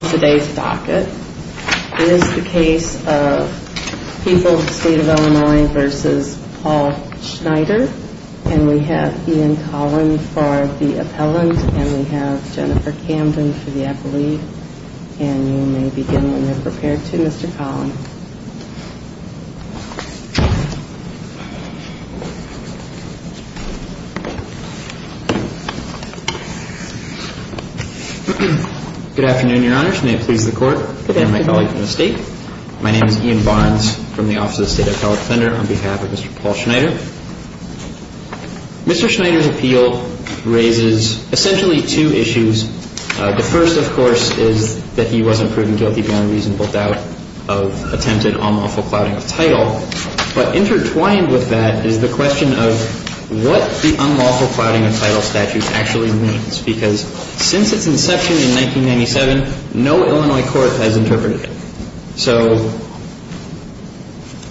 Today's docket is the case of People, State of Illinois v. Paul Schneider. And we have Ian Collin for the appellant, and we have Jennifer Camden for the appellee. And you may begin when you're prepared to, Mr. Collin. Good afternoon, Your Honors. May it please the Court and my colleagues in the State. My name is Ian Barnes from the Office of the State Appellate Defender on behalf of Mr. Paul Schneider. Mr. Schneider's appeal raises essentially two issues. The first, of course, is that he wasn't proven guilty beyond reasonable doubt of attempted unlawful clouding of title. But intertwined with that is the question of what the unlawful clouding of title statute actually means, because since its inception in 1997, no Illinois court has interpreted it. So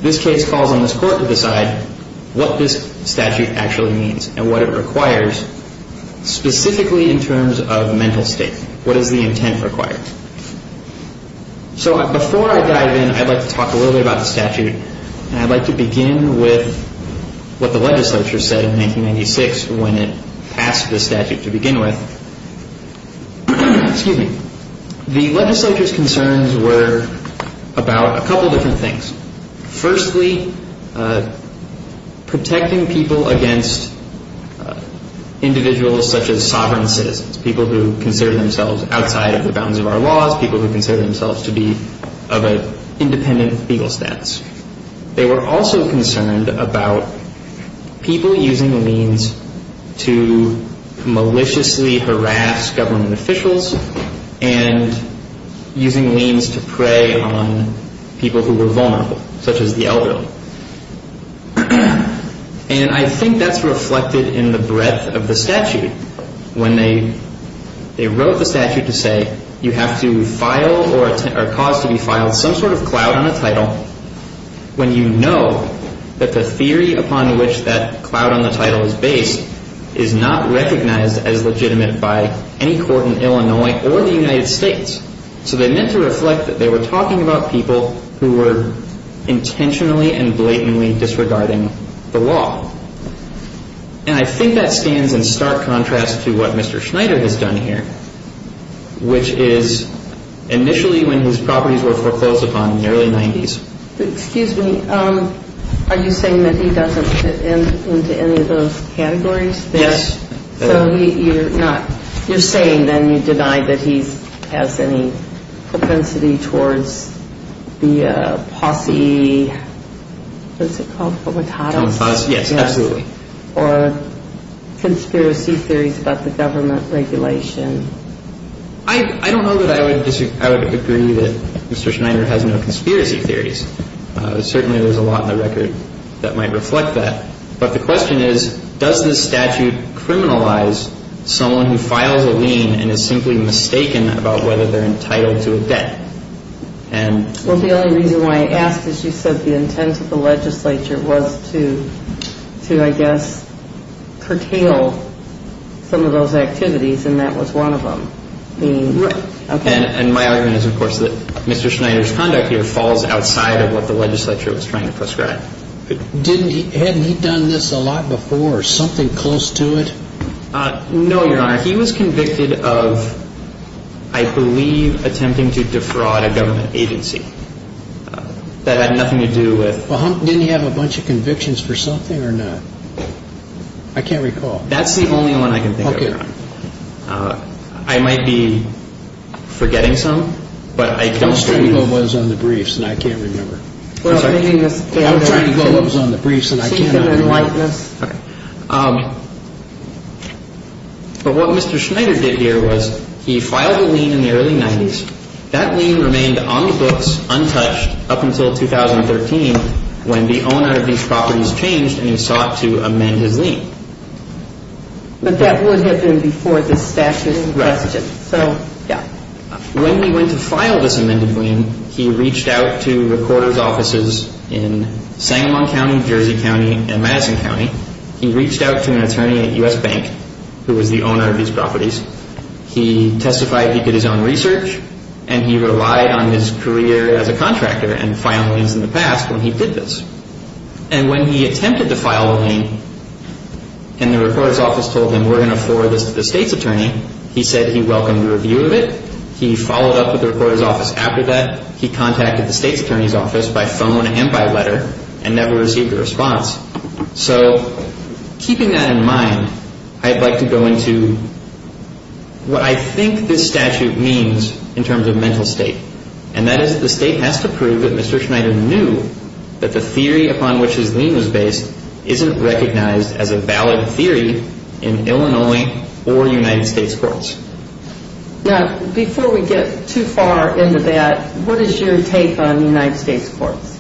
this case calls on this Court to decide what this statute actually means and what it requires, specifically in terms of mental state. What is the intent required? So before I dive in, I'd like to talk a little bit about the statute, and I'd like to begin with what the legislature said in 1996 when it passed the statute to begin with. Excuse me. The legislature's concerns were about a couple different things. Firstly, protecting people against individuals such as sovereign citizens, people who consider themselves outside of the bounds of our laws, people who consider themselves to be of an independent legal status. They were also concerned about people using liens to maliciously harass government officials and using liens to prey on people who were vulnerable, such as the elderly. And I think that's reflected in the breadth of the statute. When they wrote the statute to say you have to file or cause to be filed some sort of cloud on a title when you know that the theory upon which that cloud on the title is based is not recognized as legitimate by any court in Illinois or the United States. So they meant to reflect that they were talking about people who were intentionally and blatantly disregarding the law. And I think that stands in stark contrast to what Mr. Schneider has done here, which is initially when his properties were foreclosed upon in the early 90s. Excuse me. Are you saying that he doesn't fit into any of those categories? Yes. So you're saying then you deny that he has any propensity towards the posse. What's it called? Yes, absolutely. Or conspiracy theories about the government regulation. I don't know that I would agree that Mr. Schneider has no conspiracy theories. Certainly there's a lot in the record that might reflect that. But the question is, does this statute criminalize someone who files a lien and is simply mistaken about whether they're entitled to a debt? Well, the only reason why I asked is you said the intent of the legislature was to, I guess, curtail some of those activities, and that was one of them. Right. And my argument is, of course, that Mr. Schneider's conduct here falls outside of what the legislature was trying to prescribe. Hadn't he done this a lot before, something close to it? No, Your Honor. He was convicted of, I believe, attempting to defraud a government agency. That had nothing to do with... I can't recall. That's the only one I can think of, Your Honor. Okay. I might be forgetting some, but I don't... I'm trying to go over what was on the briefs, and I can't remember. I'm sorry? I'm trying to go over what was on the briefs, and I can't remember. Okay. But what Mr. Schneider did here was he filed a lien in the early 90s. That lien remained on the books, untouched, up until 2013, when the owner of these properties changed and he sought to amend his lien. But that would have been before the statute requested. Right. So, yeah. When he went to file this amended lien, he reached out to recorder's offices in Sangamon County, Jersey County, and Madison County. He reached out to an attorney at U.S. Bank, who was the owner of these properties. He testified he did his own research, and he relied on his career as a contractor and filed liens in the past when he did this. And when he attempted to file a lien and the recorder's office told him, we're going to forward this to the state's attorney, he said he welcomed a review of it. He followed up with the recorder's office after that. He contacted the state's attorney's office by phone and by letter and never received a response. So keeping that in mind, I'd like to go into what I think this statute means in terms of mental state, and that is the state has to prove that Mr. Schneider knew that the theory upon which his lien was based isn't recognized as a valid theory in Illinois or United States courts. Now, before we get too far into that, what is your take on the United States courts?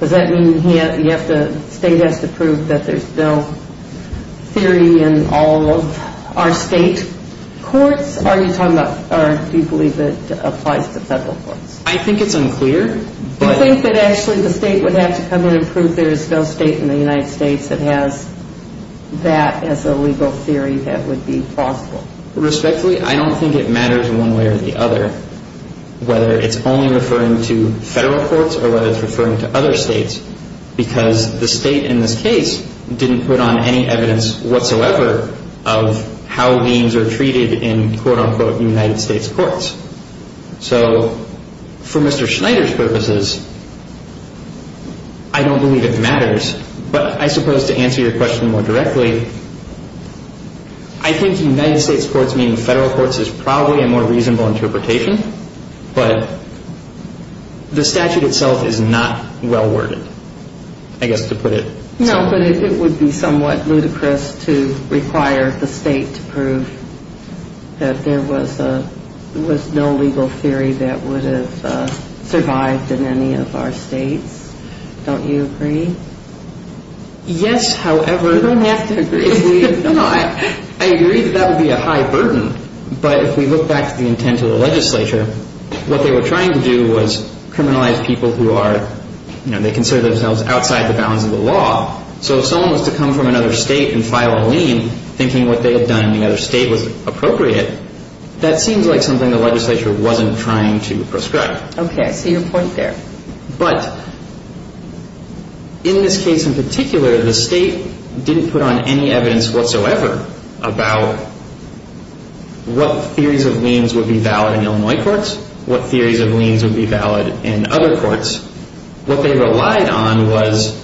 Does that mean the state has to prove that there's no theory in all of our state courts? Or do you believe it applies to federal courts? I think it's unclear. Do you think that actually the state would have to come in and prove there is no state in the United States that has that as a legal theory that would be plausible? Respectfully, I don't think it matters one way or the other whether it's only referring to federal courts or whether it's referring to other states because the state in this case didn't put on any evidence whatsoever of how liens are treated in quote-unquote United States courts. So for Mr. Schneider's purposes, I don't believe it matters, but I suppose to answer your question more directly, I think United States courts meaning federal courts is probably a more reasonable interpretation, but the statute itself is not well-worded, I guess to put it. No, but it would be somewhat ludicrous to require the state to prove that there was no legal theory that would have survived in any of our states. Don't you agree? Yes, however... You don't have to agree. No, I agree that that would be a high burden, but if we look back to the intent of the legislature, they considered themselves outside the bounds of the law. So if someone was to come from another state and file a lien thinking what they had done in another state was appropriate, that seems like something the legislature wasn't trying to prescribe. Okay, I see your point there. But in this case in particular, the state didn't put on any evidence whatsoever about what theories of liens would be valid in Illinois courts, what theories of liens would be valid in other courts, what they relied on was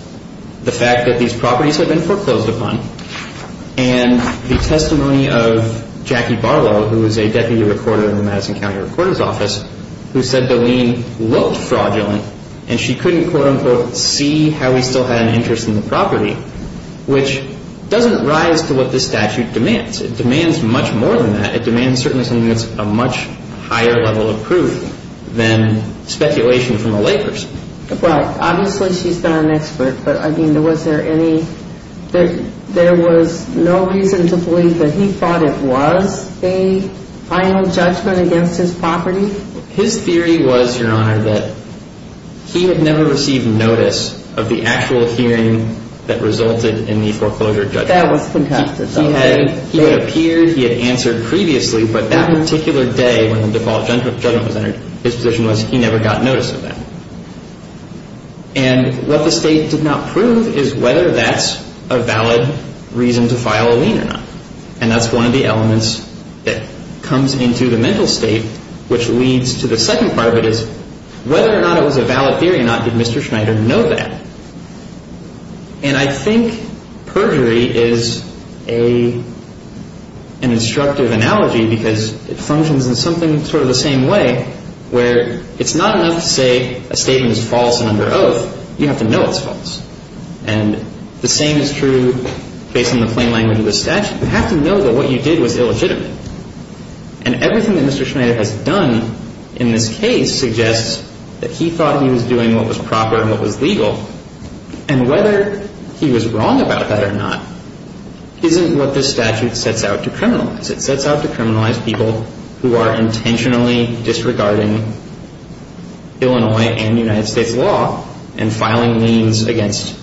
the fact that these properties had been foreclosed upon and the testimony of Jackie Barlow, who is a deputy recorder in the Madison County Recorder's Office, who said the lien looked fraudulent and she couldn't, quote-unquote, see how he still had an interest in the property, which doesn't rise to what this statute demands. It demands much more than that. It demands certainly something that's a much higher level of proof than speculation from a layperson. Right. Obviously she's not an expert, but, I mean, was there any – there was no reason to believe that he thought it was a final judgment against his property? His theory was, Your Honor, that he had never received notice of the actual hearing that resulted in the foreclosure judgment. That was fantastic. He had appeared, he had answered previously, but that particular day when the default judgment was entered, his position was he never got notice of that. And what the State did not prove is whether that's a valid reason to file a lien or not. And that's one of the elements that comes into the mental state, which leads to the second part of it is whether or not it was a valid theory or not, did Mr. Schneider know that? And I think perjury is an instructive analogy because it functions in something sort of the same way where it's not enough to say a statement is false and under oath. You have to know it's false. And the same is true based on the plain language of the statute. You have to know that what you did was illegitimate. And everything that Mr. Schneider has done in this case suggests that he thought he was doing what was proper and what was legal. And whether he was wrong about that or not isn't what this statute sets out to criminalize. It sets out to criminalize people who are intentionally disregarding Illinois and United States law and filing liens against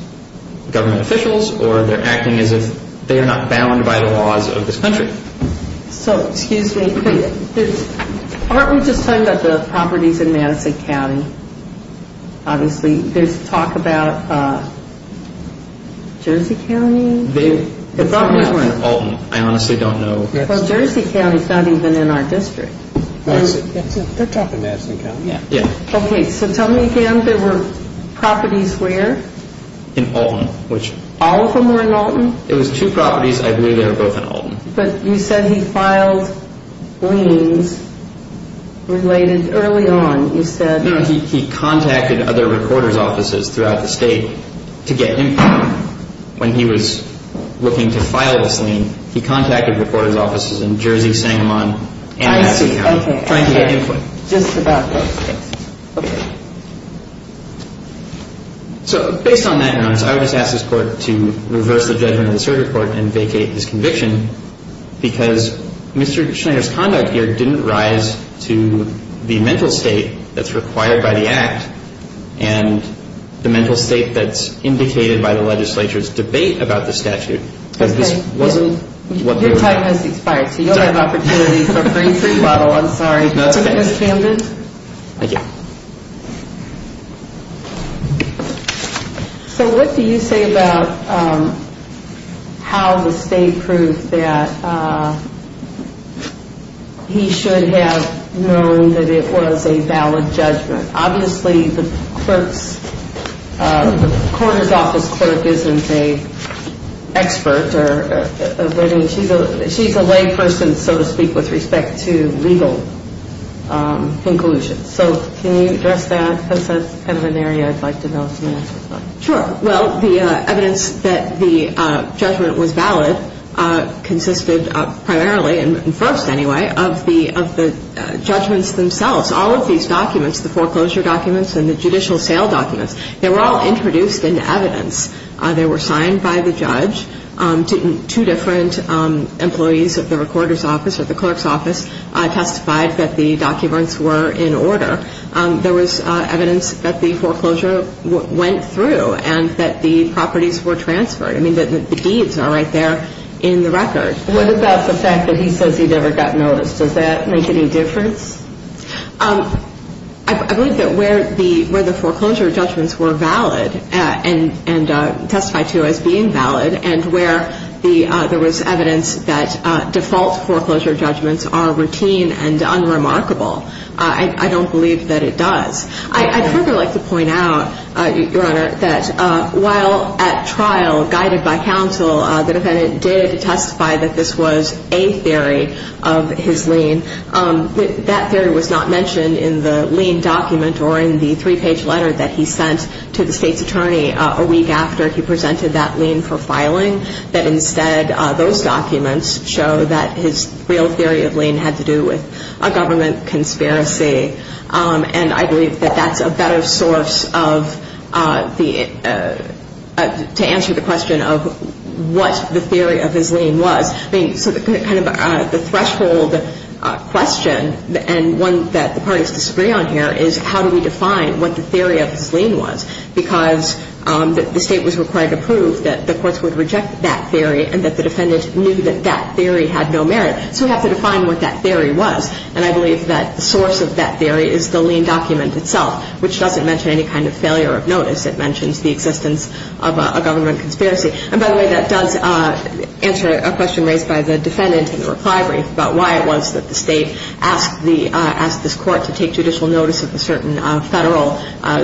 government officials or they're acting as if they are not bound by the laws of this country. So, excuse me. Aren't we just talking about the properties in Madison County? Obviously, there's talk about Jersey County. The properties were in Alton. I honestly don't know. Well, Jersey County is not even in our district. They're talking about Madison County. Yeah. Okay, so tell me again. There were properties where? In Alton. All of them were in Alton? It was two properties. I believe they were both in Alton. But you said he filed liens related early on. You said? No, he contacted other recorder's offices throughout the state to get input. When he was looking to file this lien, he contacted recorder's offices in Jersey, Sangamon, and Madison County. I see. Trying to get input. Just about those things. Okay. So, based on that, Your Honor, I would just ask this Court to reverse the judgment of the circuit court and vacate this conviction because Mr. Schneider's conduct here didn't rise to the mental state that's required by the Act and the mental state that's indicated by the legislature's debate about the statute. Okay. Your time has expired, so you don't have opportunity for a free free bottle. I'm sorry. No, it's okay. Ms. Camden. Thank you. So, what do you say about how the state proved that he should have known that it was a valid judgment? Obviously, the clerk's, the recorder's office clerk isn't an expert. She's a layperson, so to speak, with respect to legal conclusions. So, can you address that? Because that's kind of an area I'd like to know some answers on. Sure. Well, the evidence that the judgment was valid consisted primarily, and first anyway, of the judgments themselves. All of these documents, the foreclosure documents and the judicial sale documents, they were all introduced in evidence. They were signed by the judge. Two different employees of the recorder's office or the clerk's office testified that the documents were in order. There was evidence that the foreclosure went through and that the properties were transferred. I mean, the deeds are right there in the record. What about the fact that he says he never got noticed? Does that make any difference? I believe that where the foreclosure judgments were valid and testified to as being valid and where there was evidence that default foreclosure judgments are routine and unremarkable, I don't believe that it does. I'd further like to point out, Your Honor, that while at trial, guided by counsel, the defendant did testify that this was a theory of his lien. That theory was not mentioned in the lien document or in the three-page letter that he sent to the state's attorney a week after he presented that lien for filing, that instead those documents show that his real theory of lien had to do with a government conspiracy. And I believe that that's a better source of the – to answer the question of what the theory of his lien was. I mean, so kind of the threshold question and one that the parties disagree on here is how do we define what the theory of his lien was? Because the state was required to prove that the courts would reject that theory and that the defendant knew that that theory had no merit. So we have to define what that theory was. And I believe that the source of that theory is the lien document itself, which doesn't mention any kind of failure of notice. It mentions the existence of a government conspiracy. And by the way, that does answer a question raised by the defendant in the reply brief about why it was that the state asked the – asked this court to take judicial notice of a certain federal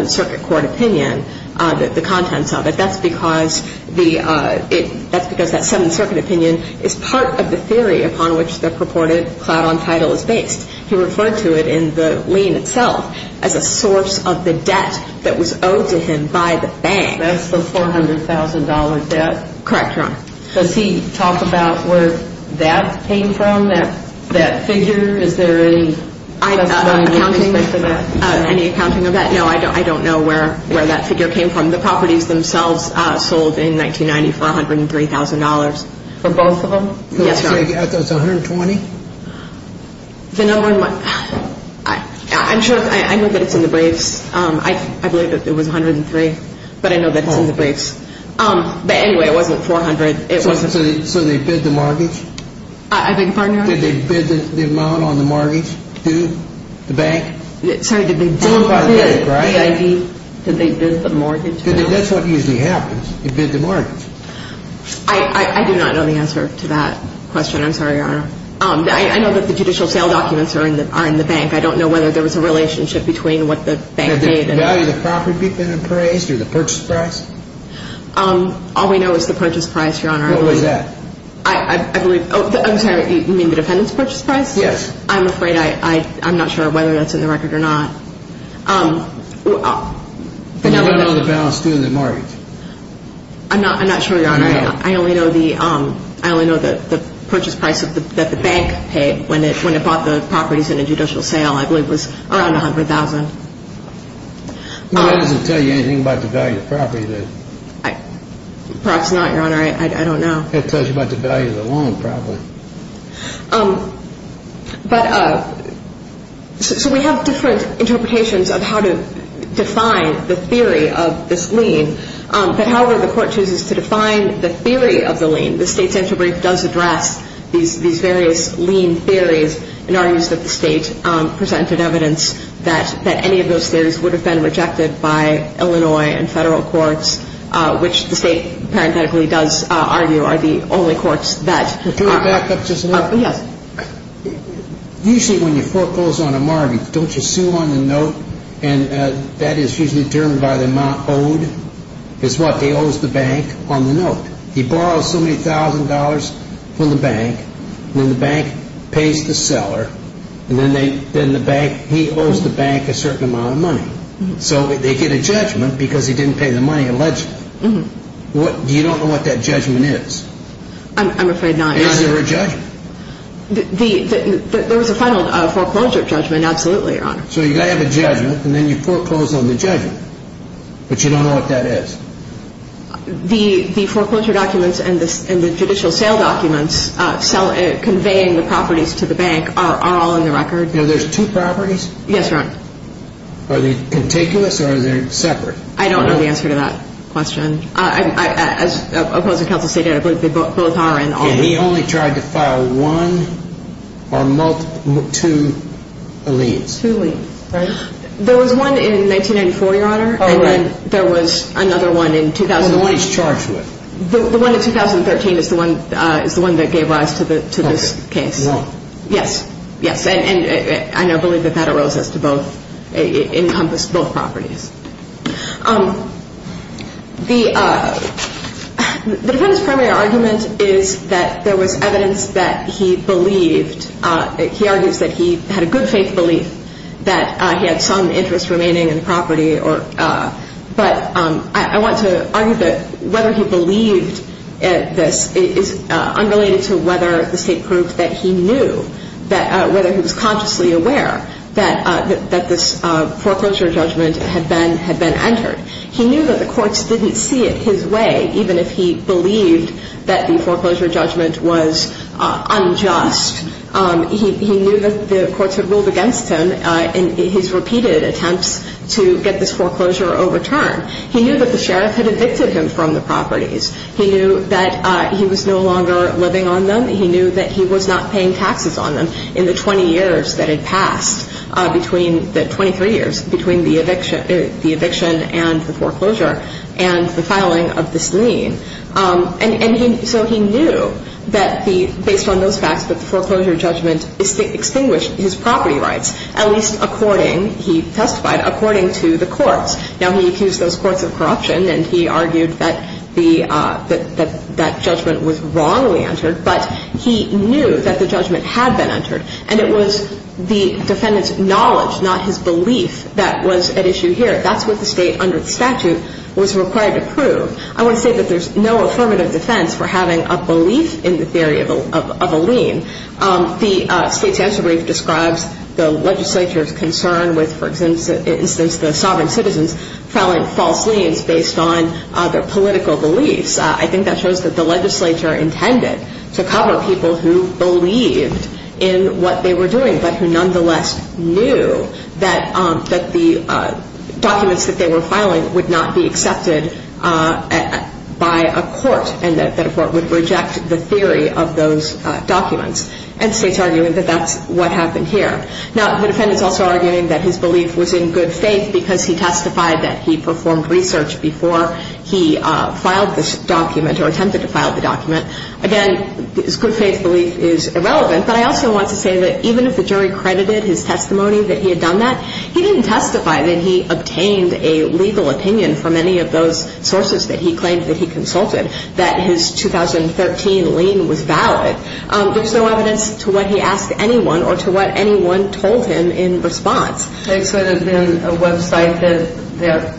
circuit court opinion, the contents of it. That's because the – that's because that seventh circuit opinion is part of the theory upon which the purported clout on title is based. He referred to it in the lien itself as a source of the debt that was owed to him by the bank. That's the $400,000 debt? Correct, Your Honor. Does he talk about where that came from, that figure? Is there any – Accounting? Any accounting of that? No, I don't know where that figure came from. The properties themselves sold in 1990 for $103,000. For both of them? Yes, Your Honor. So it's $120,000? The number – I'm sure – I know that it's in the briefs. I believe that it was $103,000, but I know that it's in the briefs. But anyway, it wasn't $400,000. It wasn't – So they bid the mortgage? I beg your pardon, Your Honor? Did they bid the amount on the mortgage due the bank? Sorry, did they bid the mortgage? That's what usually happens. You bid the mortgage. I do not know the answer to that question. I'm sorry, Your Honor. I know that the judicial sale documents are in the bank. I don't know whether there was a relationship between what the bank did and – Did they value the property being appraised or the purchase price? All we know is the purchase price, Your Honor. What was that? I believe – I'm sorry, you mean the defendant's purchase price? Yes. I'm afraid I – I'm not sure whether that's in the record or not. Do you know the balance due the mortgage? I'm not sure, Your Honor. I only know the purchase price that the bank paid when it bought the properties in a judicial sale. I believe it was around $100,000. That doesn't tell you anything about the value of the property, does it? Perhaps not, Your Honor. I don't know. That tells you about the value of the loan, probably. But – so we have different interpretations of how to define the theory of this lien. But however the court chooses to define the theory of the lien, the state's interbrief does address these various lien theories and argues that the state presented evidence that any of those theories would have been rejected by Illinois and federal courts, which the state parenthetically does argue are the only courts that are – Can I back up just a minute? Yes. Usually when you foreclose on a mortgage, don't you sue on the note? And that is usually determined by the amount owed. It's what they owe the bank on the note. He borrows so many thousand dollars from the bank, then the bank pays the seller, and then the bank – he owes the bank a certain amount of money. So they get a judgment because he didn't pay the money allegedly. You don't know what that judgment is? I'm afraid not. Is there a judgment? There was a final foreclosure judgment, absolutely, Your Honor. So you have a judgment, and then you foreclose on the judgment. But you don't know what that is? The foreclosure documents and the judicial sale documents conveying the properties to the bank are all in the record. There's two properties? Yes, Your Honor. Are they contiguous, or are they separate? I don't know the answer to that question. As opposed to counsel stated, I believe they both are. And he only tried to file one or two liens? Two liens. There was one in 1994, Your Honor. Oh, right. And then there was another one in – The one he's charged with. The one in 2013 is the one that gave rise to this case. One. Yes. Yes. And I believe that that arose as to both – encompassed both properties. The defendant's primary argument is that there was evidence that he believed – he argues that he had a good faith belief that he had some interest remaining in the property. But I want to argue that whether he believed this is unrelated to whether the State proved that he knew, whether he was consciously aware that this foreclosure judgment had been entered. He knew that the courts didn't see it his way, even if he believed that the foreclosure judgment was unjust. He knew that the courts had ruled against him in his repeated attempts to get this foreclosure overturned. He knew that the sheriff had evicted him from the properties. He knew that he was no longer living on them. He knew that he was not paying taxes on them in the 20 years that had passed between – the 23 years between the eviction and the foreclosure and the filing of this lien. And so he knew that the – based on those facts, that the foreclosure judgment extinguished his property rights, at least according – he testified according to the courts. Now, he accused those courts of corruption, and he argued that the – that that judgment was wrongly entered, but he knew that the judgment had been entered. And it was the defendant's knowledge, not his belief, that was at issue here. That's what the State under the statute was required to prove. I want to say that there's no affirmative defense for having a belief in the theory of a lien. The State's answer brief describes the legislature's concern with, for instance, the sovereign citizens filing false liens based on their political beliefs. I think that shows that the legislature intended to cover people who believed in what they were doing, but who nonetheless knew that the documents that they were filing would not be accepted by a court and that a court would reject the theory of those documents. And the State's arguing that that's what happened here. Now, the defendant's also arguing that his belief was in good faith because he testified that he performed research before he filed this document or attempted to file the document. Again, his good faith belief is irrelevant. But I also want to say that even if the jury credited his testimony that he had done that, he didn't testify that he obtained a legal opinion from any of those sources that he claimed that he consulted, that his 2013 lien was valid. There's no evidence to what he asked anyone or to what anyone told him in response. This would have been a website that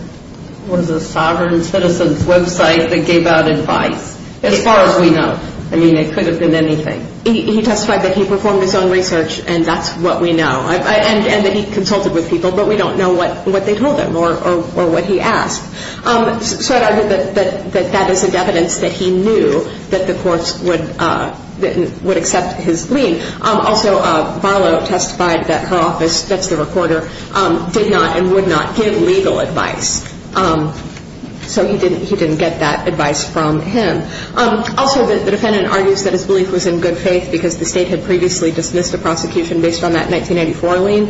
was a sovereign citizens' website that gave out advice, as far as we know. I mean, it could have been anything. He testified that he performed his own research, and that's what we know, and that he consulted with people, but we don't know what they told him or what he asked. So I'd argue that that is evidence that he knew that the courts would accept his lien. Also, Barlow testified that her office, that's the recorder, did not and would not give legal advice. So he didn't get that advice from him. Also, the defendant argues that his belief was in good faith because the State had previously dismissed a prosecution based on that 1984 lien.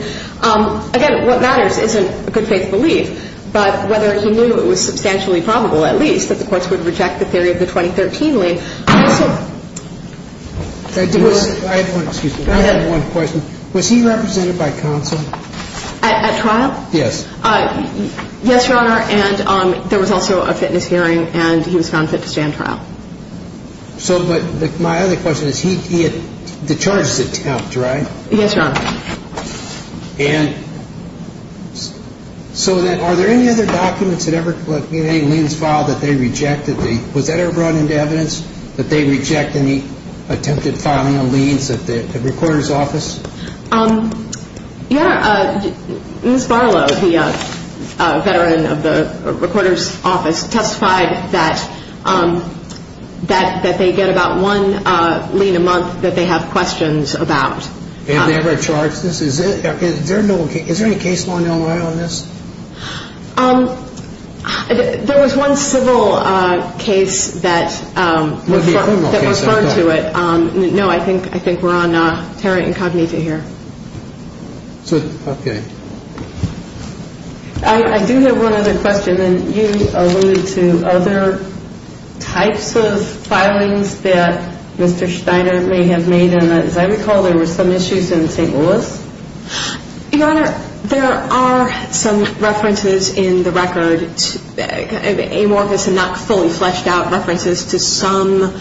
Again, what matters isn't a good faith belief, but whether he knew it was substantially probable, at least, that the courts would reject the theory of the 2013 lien. I also – I have one – excuse me. I have one question. At trial? Yes. Yes, Your Honor. Yes, Your Honor, and there was also a fitness hearing, and he was found fit to stand trial. So, but my other question is, he had – the charges attempt, right? Yes, Your Honor. And so then are there any other documents that ever – in any liens filed that they rejected? Was that ever brought into evidence, that they reject any attempted filing of liens at the recorder's office? Your Honor, Ms. Barlow, the veteran of the recorder's office, testified that they get about one lien a month that they have questions about. Have they ever charged this? Is there no – is there any case law in Illinois on this? There was one civil case that referred to it. No, I think we're on terra incognita here. So, okay. I do have one other question, and you alluded to other types of filings that Mr. Steiner may have made, and as I recall, there were some issues in St. Louis? Your Honor, there are some references in the record, amorphous and not fully fleshed out references, to some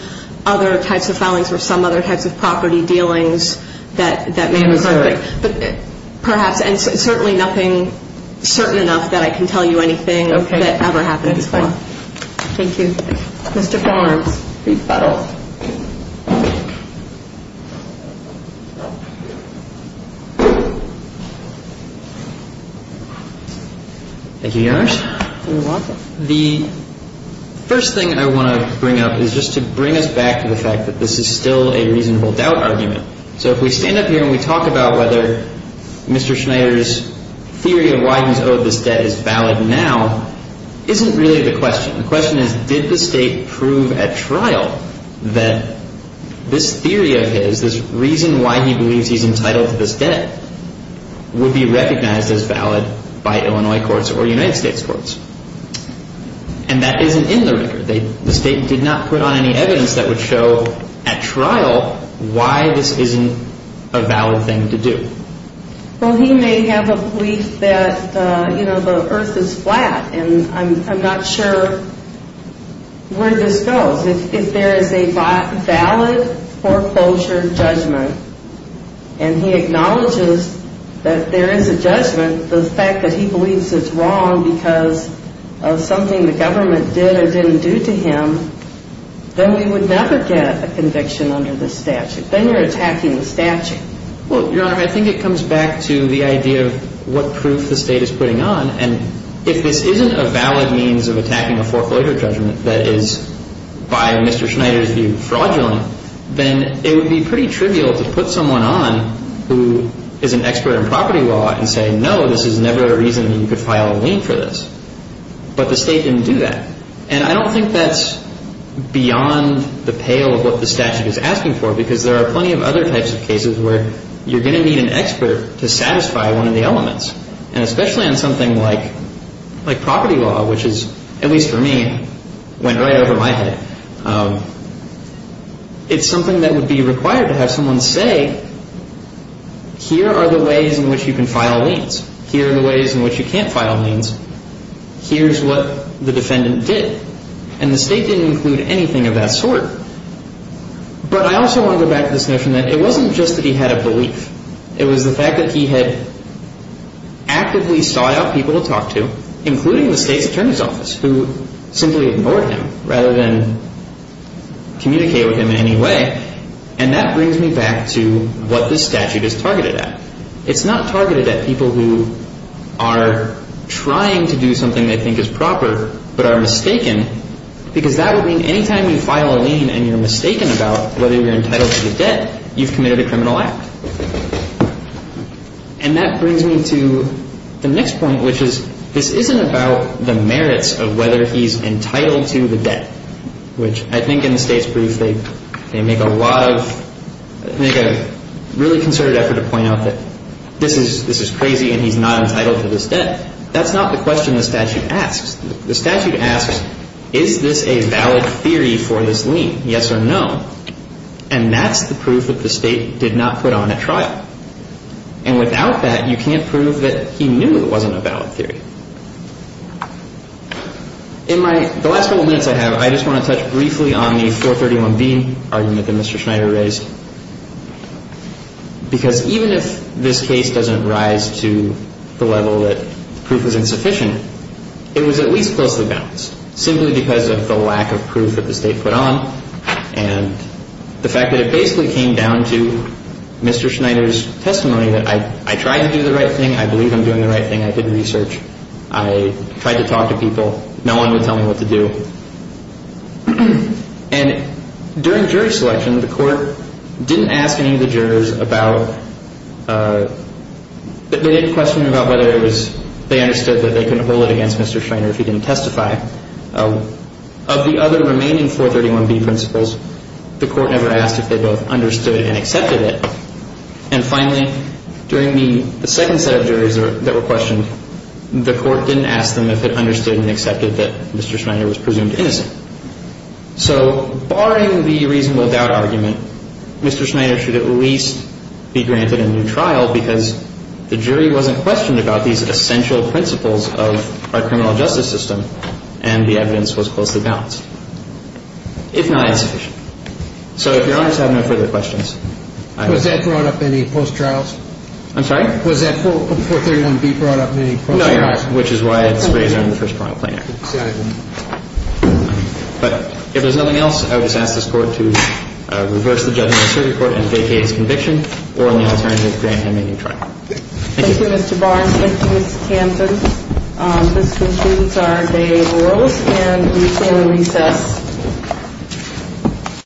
other types of filings or some other types of property dealings that may have occurred. But perhaps – and certainly nothing certain enough that I can tell you anything that ever happened before. Okay, that's fine. Thank you. Mr. Barnes, brief battle. Thank you, Your Honor. You're welcome. The first thing I want to bring up is just to bring us back to the fact that this is still a reasonable doubt argument. So if we stand up here and we talk about whether Mr. Schneider's theory of why he's owed this debt is valid now, isn't really the question. The question is, did the State prove at trial that this theory of his, this reason why he believes he's entitled to this debt, would be recognized as valid by Illinois courts or United States courts? And that isn't in the record. The State did not put on any evidence that would show at trial why this isn't a valid thing to do. Well, he may have a belief that, you know, the earth is flat and I'm not sure where this goes. If there is a valid foreclosure judgment and he acknowledges that there is a judgment, the fact that he believes it's wrong because of something the government did or didn't do to him, then we would never get a conviction under this statute. Then you're attacking the statute. Well, Your Honor, I think it comes back to the idea of what proof the State is putting on. And if this isn't a valid means of attacking a foreclosure judgment that is, by Mr. Schneider's view, fraudulent, then it would be pretty trivial to put someone on who is an expert in property law and say, no, this is never a reason you could file a lien for this. But the State didn't do that. And I don't think that's beyond the pale of what the statute is asking for, because there are plenty of other types of cases where you're going to need an expert to satisfy one of the elements. And especially on something like property law, which is, at least for me, went right over my head, it's something that would be required to have someone say, here are the ways in which you can file liens. Here are the ways in which you can't file liens. Here's what the defendant did. And the State didn't include anything of that sort. But I also want to go back to this notion that it wasn't just that he had a belief. It was the fact that he had actively sought out people to talk to, including the State's attorney's office, who simply ignored him rather than communicate with him in any way. And that brings me back to what this statute is targeted at. It's not targeted at people who are trying to do something they think is proper but are mistaken, because that would mean any time you file a lien and you're mistaken about whether you're entitled to the debt, you've committed a criminal act. And that brings me to the next point, which is this isn't about the merits of whether he's entitled to the debt, which I think in the State's brief they make a lot of – make a really concerted effort to point out that this is crazy and he's not entitled to this debt. That's not the question the statute asks. The statute asks, is this a valid theory for this lien, yes or no? And that's the proof that the State did not put on at trial. And without that, you can't prove that he knew it wasn't a valid theory. In my – the last couple minutes I have, I just want to touch briefly on the 431B argument that Mr. Schneider raised, because even if this case doesn't rise to the level that proof is insufficient, it was at least closely balanced, simply because of the lack of proof that the State put on, and the fact that it basically came down to Mr. Schneider's testimony that I tried to do the right thing, I believe I'm doing the right thing, I did research, I tried to talk to people, no one would tell me what to do. And during jury selection, the Court didn't ask any of the jurors about – they did question about whether it was – they understood that they couldn't hold it against Mr. Schneider if he didn't testify. Of the other remaining 431B principles, the Court never asked if they both understood and accepted it. And finally, during the second set of juries that were questioned, the Court didn't ask them if it understood and accepted that Mr. Schneider was presumed innocent. So barring the reasonable doubt argument, Mr. Schneider should at least be granted a new trial because the jury wasn't questioned about these essential principles of our criminal justice system, and the evidence was closely balanced, if not insufficient. So if Your Honors have no further questions. Was that brought up in any post-trials? I'm sorry? Was that 431B brought up in any post-trials? No, Your Honor, which is why it's raised on the first trial plenary. But if there's nothing else, I would just ask this Court to reverse the judgment of the circuit court and vacate its conviction or allow the attorney to grant him a new trial. Thank you. Thank you, Mr. Barnes. Thank you, Ms. Kampen. This concludes our day in the world, and we call a recess.